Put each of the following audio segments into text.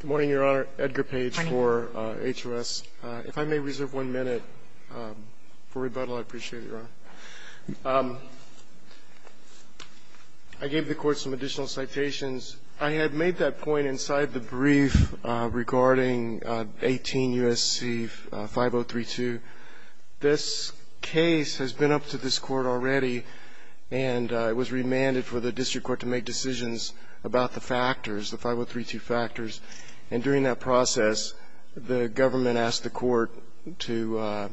Good morning, Your Honor. Edgar Page for HOS. If I may reserve one minute for rebuttal, I appreciate it, Your Honor. I gave the Court some additional citations. I had made that point inside the brief regarding 18 U.S.C. 5032. This case has been up to this Court already, and it was remanded for the District Court to make decisions about the factors, the 5032 factors. And during that process, the government asked the Court to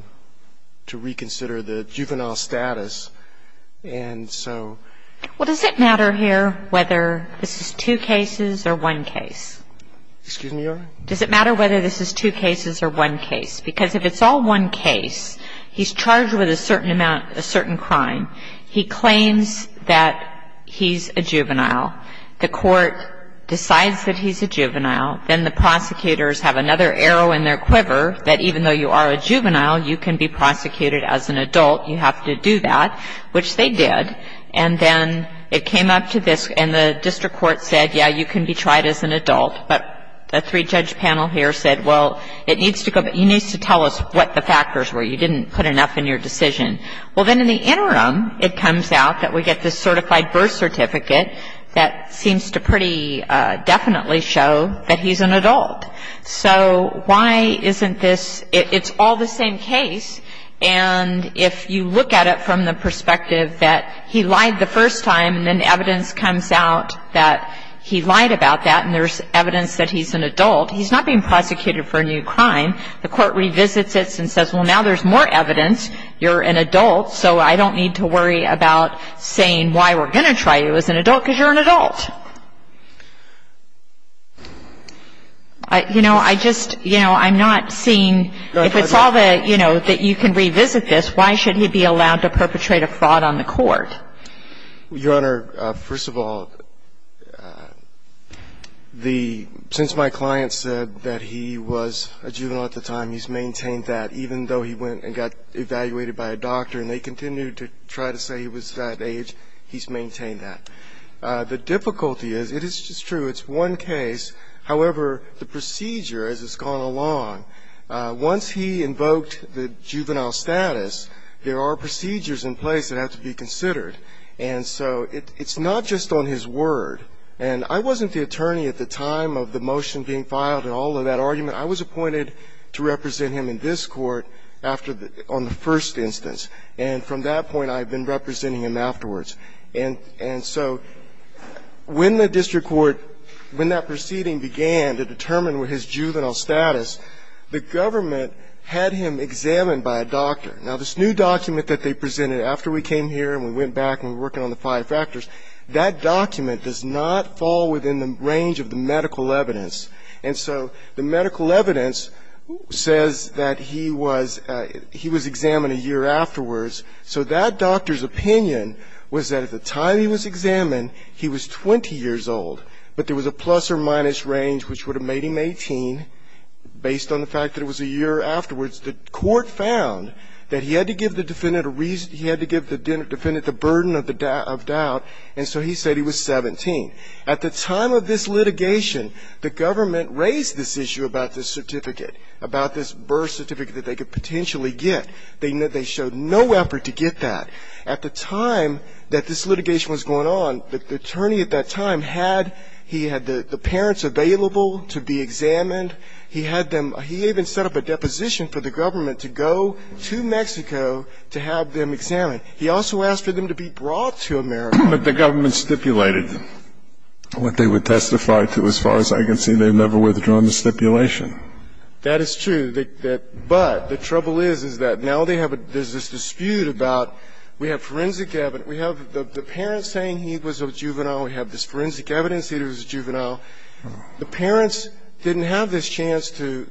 reconsider the juvenile status. And so — Well, does it matter here whether this is two cases or one case? Excuse me, Your Honor? Does it matter whether this is two cases or one case? Because if it's all one case, he's charged with a certain amount, a certain crime. He claims that he's a juvenile. The Court decides that he's a juvenile. Then the prosecutors have another arrow in their quiver that even though you are a juvenile, you can be prosecuted as an adult. You have to do that, which they did. And then it came up to this — and the District Court said, yeah, you can be tried as an adult. But the three-judge panel here said, well, it needs to go — you need to tell us what the factors were. You didn't put enough in your decision. Well, then in the interim, it comes out that we get this certified birth certificate that seems to pretty definitely show that he's an adult. So why isn't this — it's all the same case. And if you look at it from the perspective that he lied the first time, and then evidence comes out that he lied about that, and there's evidence that he's an adult, he's not being prosecuted for a new crime. The Court revisits it and says, well, now there's more evidence. You're an adult. So I don't need to worry about saying why we're going to try you as an adult because you're an adult. You know, I just — you know, I'm not seeing — if it's all the — you know, that you can revisit this, why should he be allowed to perpetrate a fraud on the Court? Your Honor, first of all, the — since my client said that he was a juvenile at the time, he's maintained that. Even though he went and got evaluated by a doctor and they continued to try to say he was that age, he's maintained that. The difficulty is — it is true, it's one case. However, the procedure as it's gone along, once he invoked the juvenile status, there are procedures in place that have to be considered. And so it's not just on his word. And I wasn't the attorney at the time of the motion being filed and all of that argument. I was appointed to represent him in this Court after the — on the first instance. And from that point, I've been representing him afterwards. And so when the district court — when that proceeding began to determine his juvenile status, the government had him examined by a doctor. Now, this new document that they presented after we came here and we went back and we're working on the five factors, that document does not fall within the range of the medical evidence. And so the medical evidence says that he was — he was examined a year afterwards. So that doctor's opinion was that at the time he was examined, he was 20 years old, but there was a plus or minus range which would have made him 18 based on the fact that it was a year afterwards. The court found that he had to give the defendant a reason — he had to give the defendant the burden of doubt, and so he said he was 17. At the time of this litigation, the government raised this issue about this certificate, about this birth certificate that they could potentially get. They showed no effort to get that. At the time that this litigation was going on, the attorney at that time had — he had the parents available to be examined. He had them — he even set up a deposition for the government to go to Mexico to have them examined. He also asked for them to be brought to America. But the government stipulated what they would testify to. As far as I can see, they've never withdrawn the stipulation. That is true. But the trouble is, is that now they have a — there's this dispute about — we have forensic — we have the parents saying he was a juvenile, we have this forensic evidence that he was a juvenile. The parents didn't have this chance to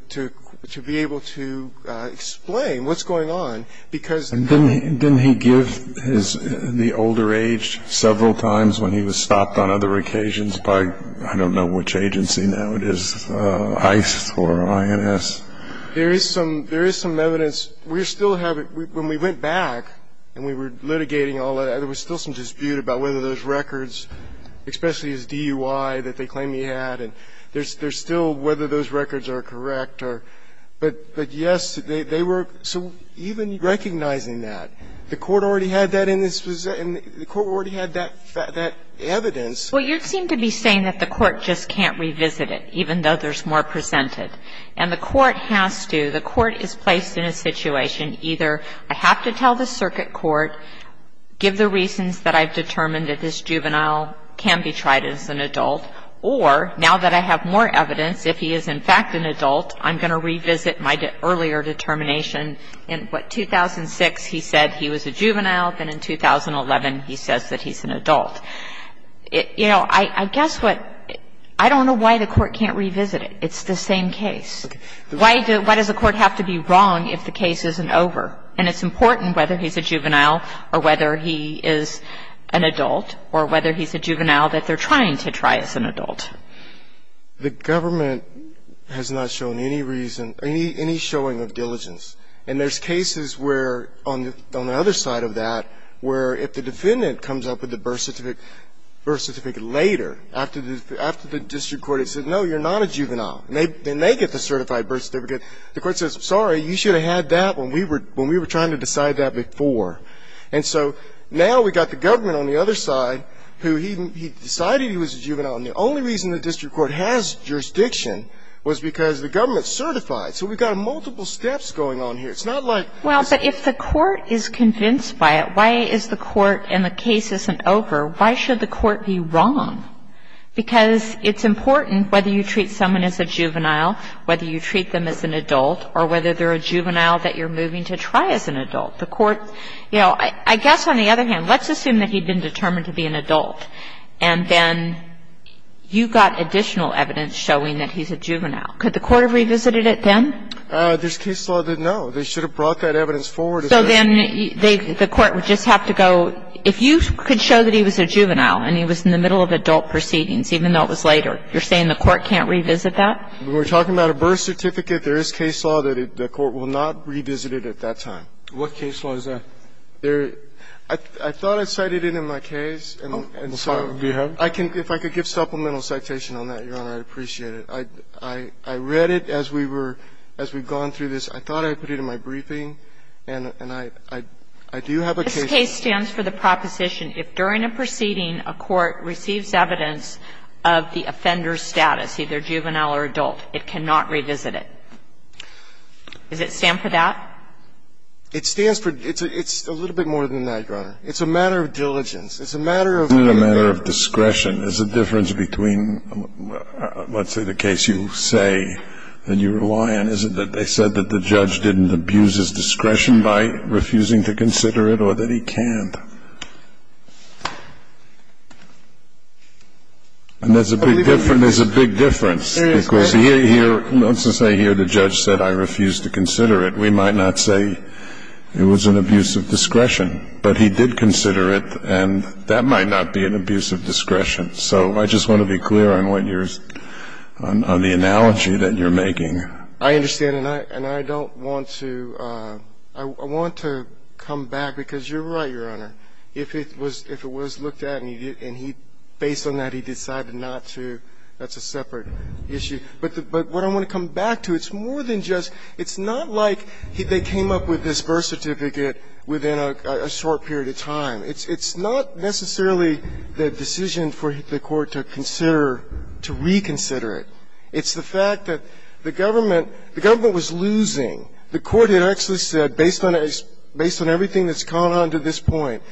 be able to explain what's going on, because — And didn't he give his — the older age several times when he was stopped on other occasions by, I don't know which agency now it is, ICE or INS? There is some — there is some evidence. We still have it. When we went back and we were litigating all that, there was still some dispute about whether those records, especially his DUI that they claim he had, and there's still whether those records are correct or — but, yes, they were — so even recognizing that, the Court already had that in its — the Court already had that evidence. Well, you seem to be saying that the Court just can't revisit it, even though there's more presented. And the Court has to. The Court is placed in a situation, either I have to tell the circuit court, give the reasons that I've determined that this juvenile can be tried as an adult, or now that I have more evidence, if he is in fact an adult, I'm going to revisit my earlier determination. In, what, 2006 he said he was a juvenile, then in 2011 he says that he's an adult. You know, I guess what — I don't know why the Court can't revisit it. It's the same case. Why does the Court have to be wrong if the case isn't over? And it's important whether he's a juvenile or whether he is an adult, or whether he's a juvenile that they're trying to try as an adult. The government has not shown any reason, any showing of diligence. And there's cases where, on the other side of that, where if the defendant comes up with the birth certificate later, after the district court has said, no, you're not a juvenile, and they get the certified birth certificate, the Court says, sorry, you should have had that when we were trying to decide that before. And so now we've got the government on the other side who he decided he was a juvenile, and the only reason the district court has jurisdiction was because the government certified. So we've got multiple steps going on here. It's not like — Well, but if the Court is convinced by it, why is the Court, and the case isn't over, why should the Court be wrong? Because it's important whether you treat someone as a juvenile, whether you treat them as an adult, or whether they're a juvenile that you're moving to try as an adult. The Court — you know, I guess on the other hand, let's assume that he'd been determined to be an adult, and then you got additional evidence showing that he's a juvenile. Could the Court have revisited it then? This case law didn't know. They should have brought that evidence forward. So then the Court would just have to go — if you could show that he was a juvenile and he was in the middle of adult proceedings, even though it was later, you're saying the Court can't revisit that? When we're talking about a birth certificate, there is case law that the Court will not revisit it at that time. What case law is that? There — I thought I cited it in my case, and so — Do you have it? If I could give supplemental citation on that, Your Honor, I'd appreciate it. I read it as we were — as we've gone through this. I thought I put it in my briefing, and I do have a case law. This case stands for the proposition, if during a proceeding a court receives evidence of the offender's status, either juvenile or adult, it cannot revisit it. Does it stand for that? It stands for — it's a little bit more than that, Your Honor. It's a matter of diligence. It's a matter of — Isn't it a matter of discretion? Is the difference between, let's say, the case you say and you rely on, is it that they said that the judge didn't abuse his discretion by refusing to consider it, or that he can't? And there's a big difference. Because here — let's just say here the judge said, I refuse to consider it. We might not say it was an abuse of discretion. But he did consider it, and that might not be an abuse of discretion. So I just want to be clear on what you're — on the analogy that you're making. I understand. And I don't want to — I want to come back, because you're right, Your Honor. If it was — if it was looked at and he — based on that, he decided not to, that's a separate issue. But what I want to come back to, it's more than just — it's not like they came up with this birth certificate within a short period of time. It's not necessarily the decision for the court to consider — to reconsider It's the fact that the government — the government was losing. The court had actually said, based on — based on everything that's gone on to this point,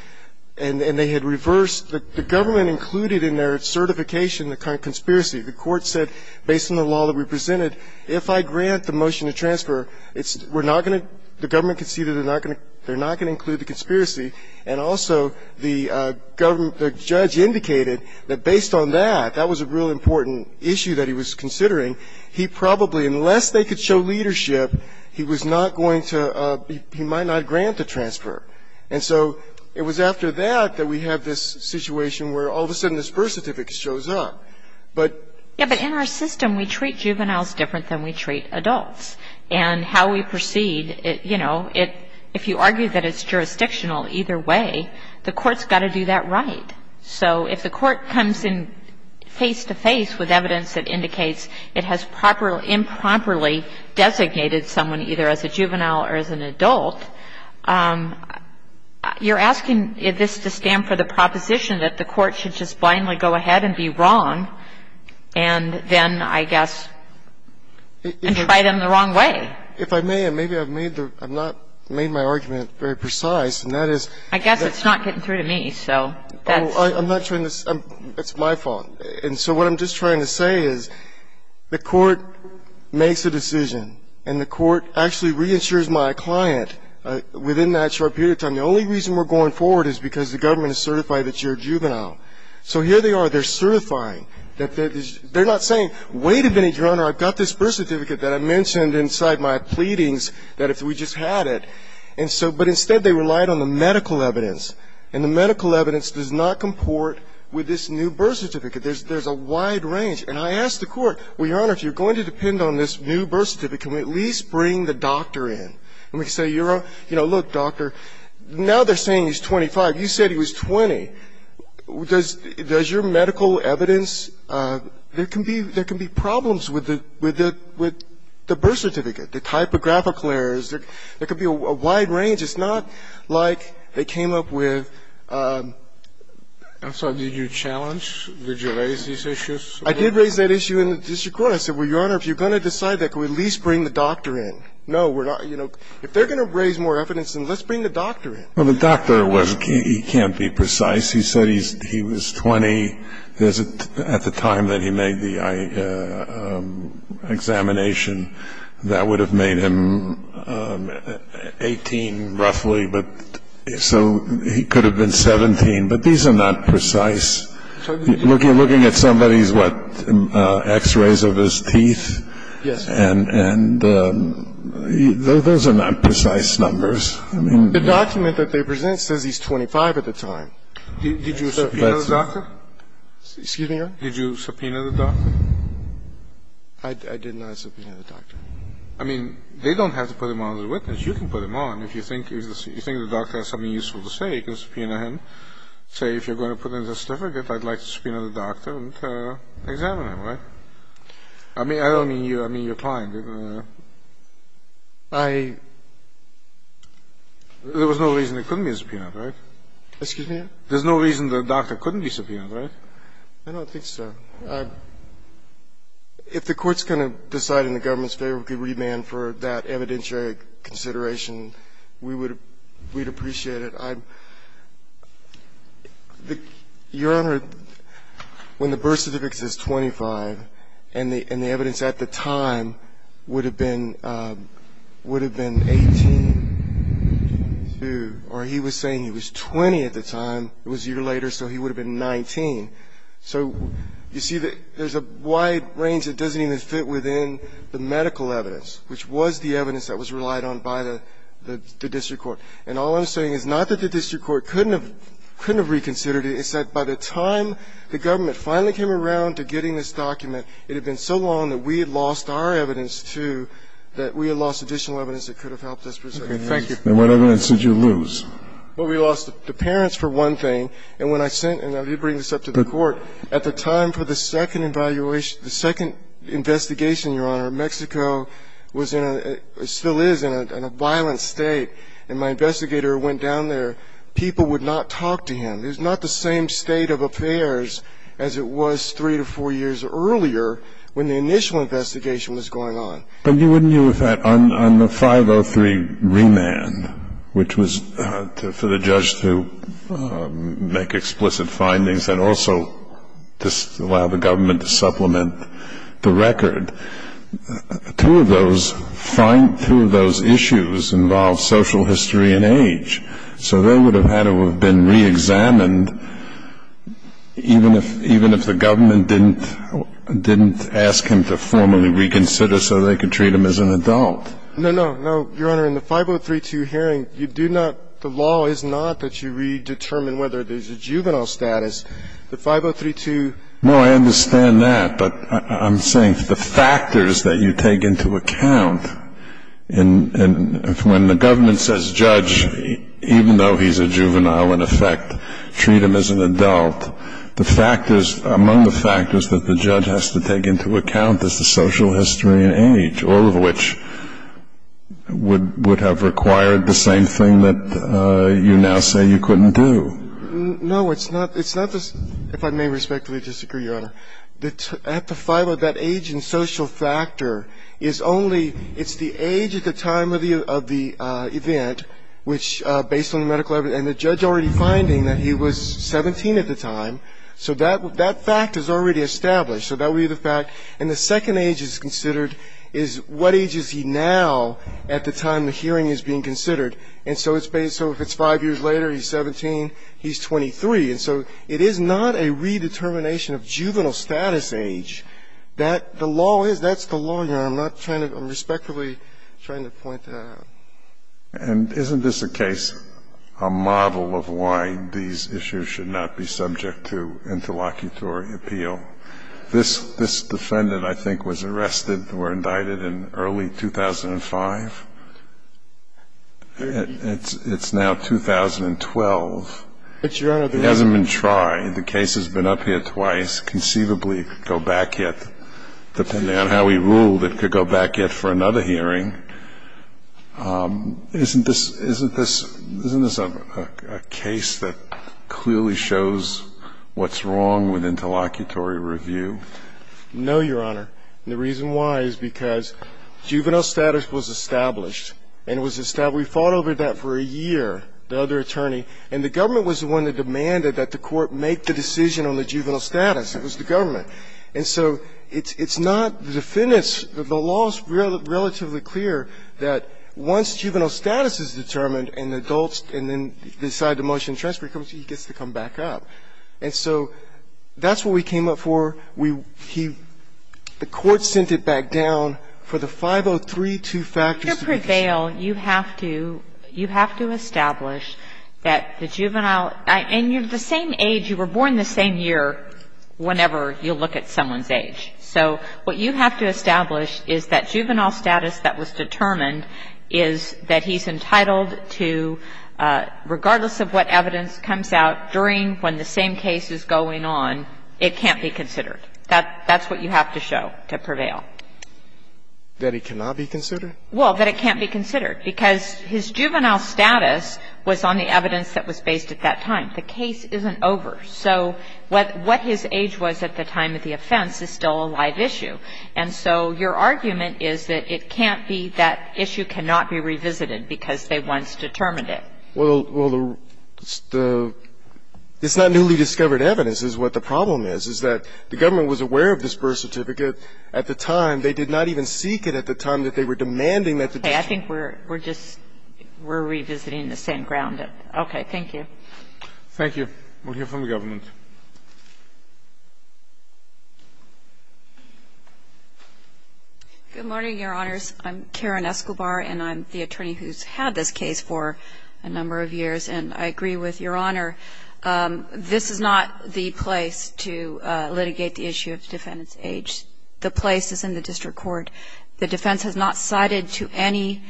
and they had reversed — the government included in their certification the conspiracy. The court said, based on the law that we presented, if I grant the motion to transfer, it's — we're not going to — the government conceded they're not going to include the conspiracy. And also, the government — the judge indicated that based on that, that was a real important issue that he was considering. He probably — unless they could show leadership, he was not going to — he might not grant the transfer. And so it was after that that we have this situation where all of a sudden this birth certificate shows up. But — Yeah, but in our system, we treat juveniles different than we treat adults. And how we proceed, you know, it — if you argue that it's jurisdictional either way, the court's got to do that right. So if the court comes in face-to-face with evidence that indicates it has improperly designated someone either as a juvenile or as an adult, you're asking this to stand for the proposition that the court should just blindly go ahead and be wrong and then, I guess, try them the wrong way. If I may, and maybe I've made the — I've not made my argument very precise, and that is — I guess it's not getting through to me. So that's — Well, I'm not trying to — it's my fault. And so what I'm just trying to say is the court makes a decision, and the court actually reinsures my client within that short period of time. The only reason we're going forward is because the government is certified that you're a juvenile. So here they are. They're certifying. They're not saying, wait a minute, Your Honor, I've got this birth certificate that I mentioned inside my pleadings that if we just had it. And so — but instead they relied on the medical evidence. And the medical evidence does not comport with this new birth certificate. There's a wide range. And I asked the court, well, Your Honor, if you're going to depend on this new birth certificate, can we at least bring the doctor in? And we say, you know, look, doctor, now they're saying he's 25. You said he was 20. Does your medical evidence — there can be problems with the birth certificate, the typographical errors. There could be a wide range. It's not like they came up with — I'm sorry, did you challenge? Did you raise these issues? I did raise that issue in the district court. I said, well, Your Honor, if you're going to decide that, can we at least bring the doctor in? No, we're not — you know, if they're going to raise more evidence, then let's bring the doctor in. Well, the doctor was — he can't be precise. He said he was 20 at the time that he made the examination. That would have made him 18, roughly, but — so he could have been 17. But these are not precise. Looking at somebody's, what, X-rays of his teeth? Yes, sir. And those are not precise numbers. I mean — The document that they present says he's 25 at the time. Did you subpoena the doctor? Excuse me, Your Honor? Did you subpoena the doctor? I did not subpoena the doctor. I mean, they don't have to put him on as a witness. You can put him on if you think the doctor has something useful to say. You can subpoena him. Say, if you're going to put in a certificate, I'd like to subpoena the doctor and examine him, right? I mean, I don't mean you. I mean your client. I — There was no reason it couldn't be subpoenaed, right? Excuse me? There's no reason the doctor couldn't be subpoenaed, right? I don't think so. If the court's going to decide in the government's favor we could remand for that evidentiary consideration, we'd appreciate it. Your Honor, when the birth certificate says 25 and the evidence at the time would have been 18, or he was saying he was 20 at the time, it was a year later, so he would have been 19. So you see that there's a wide range that doesn't even fit within the medical evidence, which was the evidence that was relied on by the district court. And all I'm saying is not that the district court couldn't have reconsidered it. It's that by the time the government finally came around to getting this document, it had been so long that we had lost our evidence, too, that we had lost additional evidence that could have helped us preserve it. Thank you. And what evidence did you lose? Well, we lost the parents, for one thing. And when I sent, and you bring this up to the court, at the time for the second investigation, Your Honor, Mexico was in a, still is in a violent state. And my investigator went down there. People would not talk to him. It was not the same state of affairs as it was three to four years earlier when the initial investigation was going on. But wouldn't you have had, on the 503 remand, which was for the judge to make explicit findings and also just allow the government to supplement the record, two of those issues involved social history and age. So they would have had to have been reexamined even if the government didn't ask him to formally reconsider so they could treat him as an adult. No, no, no. Your Honor, in the 503-2 hearing, you do not, the law is not that you redetermine whether there's a juvenile status. The 503-2. No, I understand that. But I'm saying the factors that you take into account, and when the government says judge, even though he's a juvenile in effect, treat him as an adult, the factors, among the factors that the judge has to take into account is the social history and age, all of which would have required the same thing that you now say you couldn't do. No, it's not. It's not, if I may respectfully disagree, Your Honor. At the five, that age and social factor is only, it's the age at the time of the event, which based on the medical evidence, and the judge already finding that he was 17 at the time of the hearing, that fact is already established. So that would be the fact. And the second age is considered is what age is he now at the time the hearing is being considered. And so it's based, so if it's five years later, he's 17, he's 23. And so it is not a redetermination of juvenile status age that the law is. That's the law, Your Honor. I'm not trying to, I'm respectfully trying to point to that. And isn't this a case, a model of why these issues should not be subject to interlocutory appeal? This defendant, I think, was arrested or indicted in early 2005. It's now 2012. But, Your Honor, there hasn't been tried. The case has been up here twice. Conceivably, it could go back yet, depending on how we ruled, it could go back yet for another hearing. Isn't this a case that clearly shows what's wrong with interlocutory review? No, Your Honor. And the reason why is because juvenile status was established. And it was established. We fought over that for a year, the other attorney. And the government was the one that demanded that the court make the decision on the juvenile status. It was the government. And so it's not, the defendant's, the law is relatively clear that once juvenile status is determined and the adults decide to motion transfer, he gets to come back up. And so that's what we came up for. We, he, the court sent it back down for the 5032 factors to be considered. To prevail, you have to, you have to establish that the juvenile, and you're the same age, you were born the same year, whenever you look at someone's age. So what you have to establish is that juvenile status that was determined is that he's entitled to, regardless of what evidence comes out during when the same case is going on, it can't be considered. That's what you have to show to prevail. That it cannot be considered? Well, that it can't be considered. Because his juvenile status was on the evidence that was based at that time. The case isn't over. So what his age was at the time of the offense is still a live issue. And so your argument is that it can't be, that issue cannot be revisited because they once determined it. Well, the, the, it's not newly discovered evidence is what the problem is, is that the government was aware of this birth certificate at the time. They did not even seek it at the time that they were demanding that the district Okay. I think we're, we're just, we're revisiting the same ground. Thank you. Thank you. We'll hear from the government. Good morning, Your Honors. I'm Karen Escobar, and I'm the attorney who's had this case for a number of years. And I agree with Your Honor. This is not the place to litigate the issue of defendant's age. The place is in the district court. The defense has not cited to any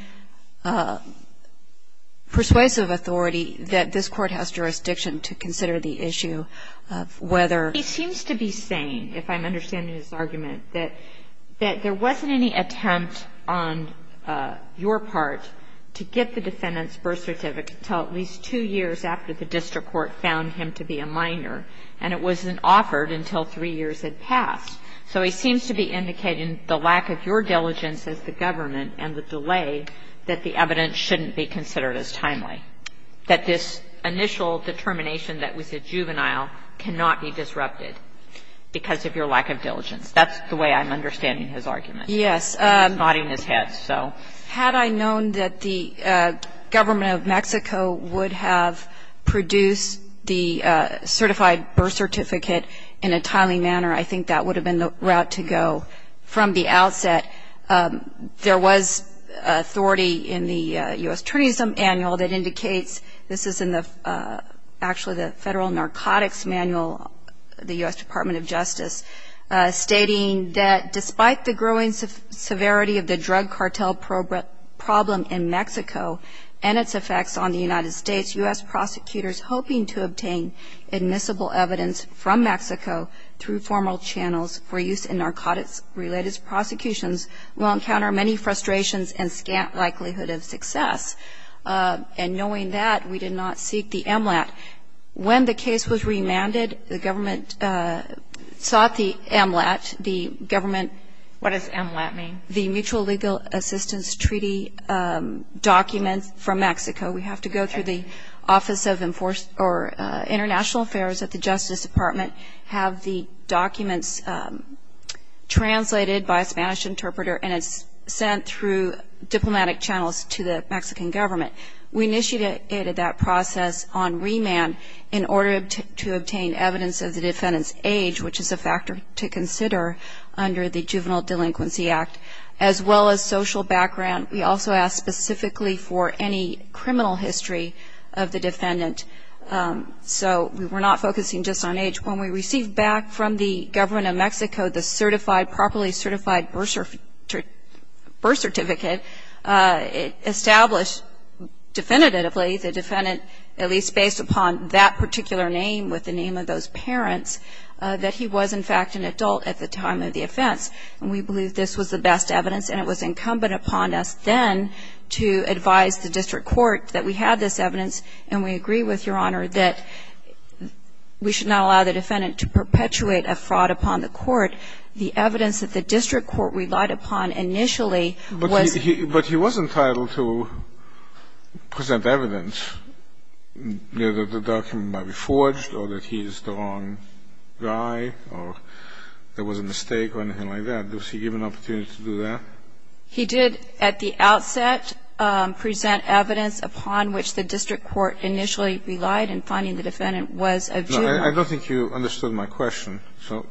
persuasive authority that this court has jurisdiction to consider the issue of whether. He seems to be saying, if I'm understanding his argument, that there wasn't any attempt on your part to get the defendant's birth certificate until at least two years after the district court found him to be a minor. And it wasn't offered until three years had passed. So he seems to be indicating the lack of your diligence as the government and the delay that the evidence shouldn't be considered as timely. That this initial determination that was a juvenile cannot be disrupted because of your lack of diligence. That's the way I'm understanding his argument. Yes. He's nodding his head, so. Had I known that the government of Mexico would have produced the certified birth certificate in a timely manner, I think that would have been the route to go from the outset. There was authority in the U.S. Tourism Annual that indicates, this is in the actually the Federal Narcotics Manual, the U.S. Department of Justice, stating that despite the growing severity of the drug cartel problem in Mexico and its effects on the United States, U.S. prosecutors hoping to obtain admissible evidence from Mexico through formal channels for use in narcotics-related prosecutions will encounter many frustrations and scant likelihood of success. And knowing that, we did not seek the MLAT. When the case was remanded, the government sought the MLAT. The government. What does MLAT mean? The Mutual Legal Assistance Treaty documents from Mexico. We have to go through the Office of International Affairs at the Justice Department, have the documents translated by a Spanish interpreter, and it's sent through diplomatic channels to the Mexican government. We initiated that process on remand in order to obtain evidence of the defendant's age, which is a factor to consider under the Juvenile Delinquency Act, as well as social background. We also asked specifically for any criminal history of the defendant. So we were not focusing just on age. When we received back from the government of Mexico the certified, properly certified birth certificate, it established definitively the defendant, at least based upon that particular name with the name of those parents, that he was, in fact, an adult at the time of the offense. And we believe this was the best evidence, and it was incumbent upon us then to advise the district court that we had this evidence, and we agree with Your Honor that we should not allow the defendant to perpetuate a fraud upon the court. The evidence that the district court relied upon initially was. But he was entitled to present evidence, you know, that the document might be forged or that he's the wrong guy or there was a mistake or anything like that. Was he given an opportunity to do that? He did at the outset present evidence upon which the district court initially relied in finding the defendant was a juvenile. No, I don't think you understood my question. So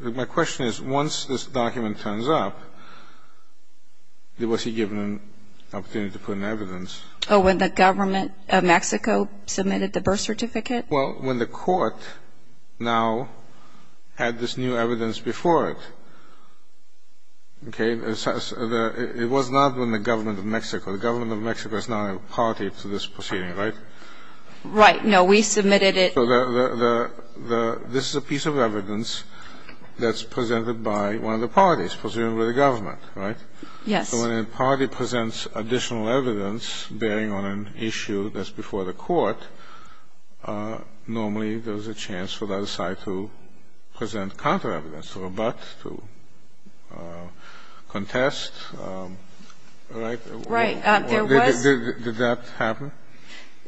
my question is, once this document turns up, was he given an opportunity to put in evidence? Oh, when the government of Mexico submitted the birth certificate? Well, when the court now had this new evidence before it. Okay? It was not when the government of Mexico. The government of Mexico is not a party to this proceeding, right? Right. No, we submitted it. So this is a piece of evidence that's presented by one of the parties, presumably the government, right? Yes. So when a party presents additional evidence bearing on an issue that's before the court, normally there's a chance for the other side to present counter evidence, to rebut, to contest, right? Right. Did that happen?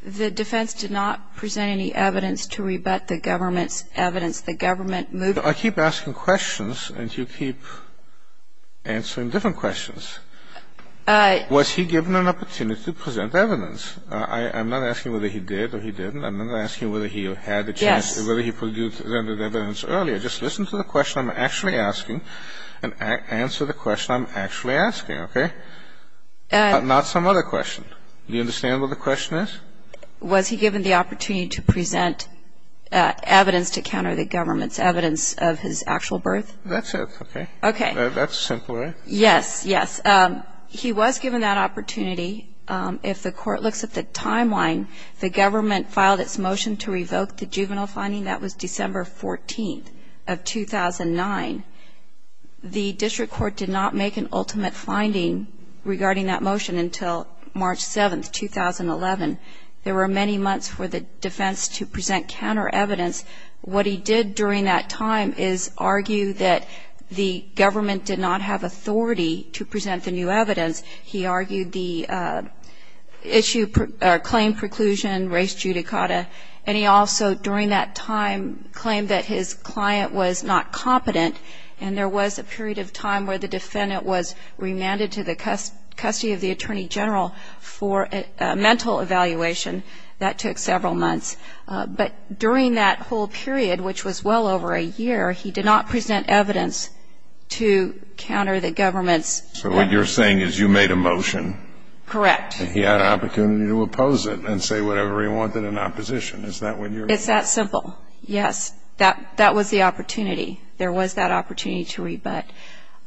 The defense did not present any evidence to rebut the government's evidence. The government moved it. I keep asking questions, and you keep answering different questions. Was he given an opportunity to present evidence? I'm not asking whether he did or he didn't. I'm not asking whether he had the chance or whether he presented evidence earlier. Just listen to the question I'm actually asking and answer the question I'm actually asking, okay? Not some other question. Do you understand what the question is? Was he given the opportunity to present evidence to counter the government's evidence of his actual birth? That's it, okay? Okay. That's simple, right? Yes, yes. He was given that opportunity. If the court looks at the timeline, the government filed its motion to revoke the juvenile finding. That was December 14th of 2009. The district court did not make an ultimate finding regarding that motion until March 7th, 2011. There were many months for the defense to present counter evidence. What he did during that time is argue that the government did not have authority to present the new evidence. He argued the claim preclusion, res judicata, and he also during that time claimed that his client was not competent, and there was a period of time where the defendant was remanded to the custody of the attorney general for a mental evaluation. That took several months. But during that whole period, which was well over a year, he did not present evidence to counter the government's. So what you're saying is you made a motion. Correct. And he had an opportunity to oppose it and say whatever he wanted in opposition. Is that what you're saying? It's that simple, yes. That was the opportunity. There was that opportunity to rebut.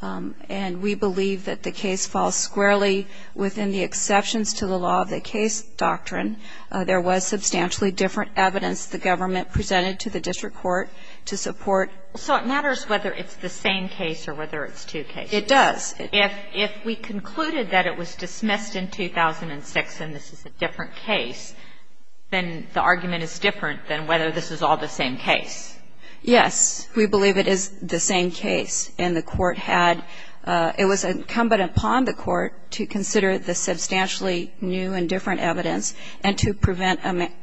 And we believe that the case falls squarely within the exceptions to the law of the case doctrine. There was substantially different evidence the government presented to the district court to support. So it matters whether it's the same case or whether it's two cases. It does. If we concluded that it was dismissed in 2006 and this is a different case, then the argument is different than whether this is all the same case. Yes. We believe it is the same case. And the Court had ‑‑ it was incumbent upon the Court to consider the substantially new and different evidence and to prevent an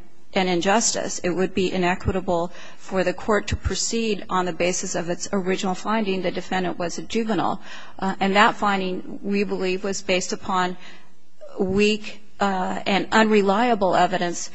injustice. It would be inequitable for the Court to proceed on the basis of its original finding that the defendant was a juvenile. And that finding, we believe, was based upon weak and unreliable evidence.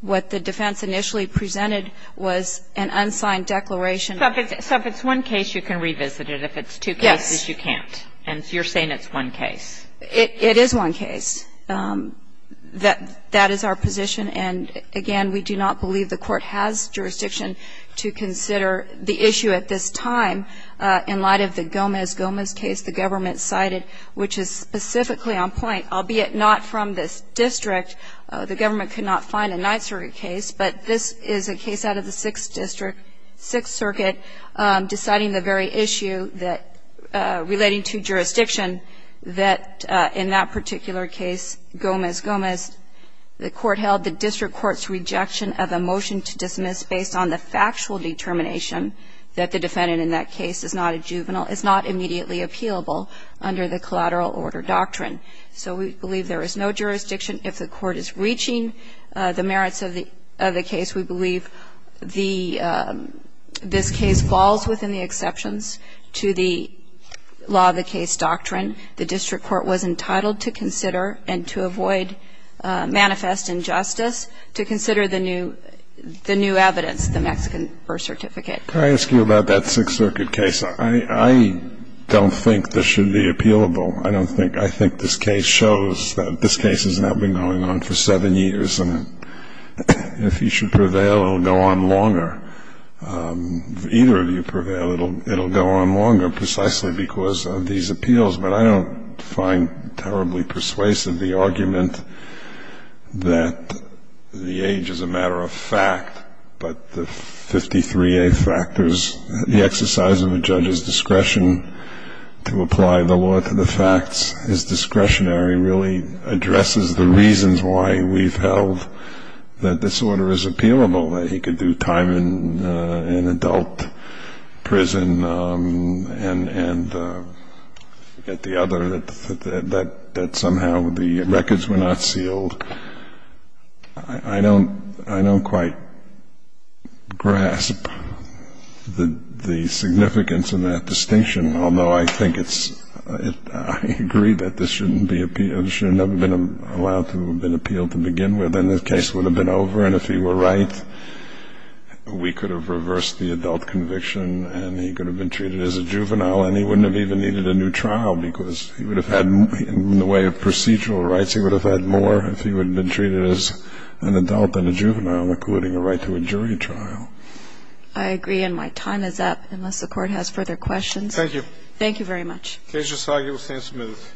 What the defense initially presented was an unsigned declaration. So if it's one case, you can revisit it. If it's two cases, you can't. Yes. And you're saying it's one case. It is one case. That is our position. And, again, we do not believe the Court has jurisdiction to consider the issue at this time in light of the Gomez‑Gomez case the government cited, which is specifically on point. Albeit not from this district, the government could not find a Ninth Circuit case, but this is a case out of the Sixth District, Sixth Circuit, deciding the very issue relating to jurisdiction that in that particular case, Gomez‑Gomez, the court held the district court's rejection of a motion to dismiss based on the factual determination that the defendant in that case is not a juvenile is not immediately appealable under the collateral order doctrine. So we believe there is no jurisdiction. If the court is reaching the merits of the case, we believe the ‑‑ this case falls within the exceptions to the law of the case doctrine. The district court was entitled to consider and to avoid manifest injustice to consider the new evidence, the Mexican birth certificate. Can I ask you about that Sixth Circuit case? I don't think this should be appealable. I don't think ‑‑ I think this case shows that this case has now been going on for seven years, and if you should prevail, it will go on longer. If either of you prevail, it will go on longer precisely because of these appeals. But I don't find terribly persuasive the argument that the age is a matter of fact, but the 53A factors, the exercise of a judge's discretion to apply the law to the facts is discretionary, really addresses the reasons why we've held that this order is appealable, that he could do time in adult prison and at the other, that somehow the records were not sealed. I don't quite grasp the significance of that distinction, although I think it's ‑‑ I agree that this shouldn't be appealed. It should have never been allowed to have been appealed to begin with, and then the case would have been over, and if he were right, we could have reversed the adult conviction, and he could have been treated as a juvenile, and he wouldn't have even needed a new trial because he would have had, in the way of procedural rights, he would have had more if he would have been treated as an adult than a juvenile, including a right to a jury trial. I agree, and my time is up, unless the Court has further questions. Thank you. Thank you very much. Cage will argue with Sam Smith.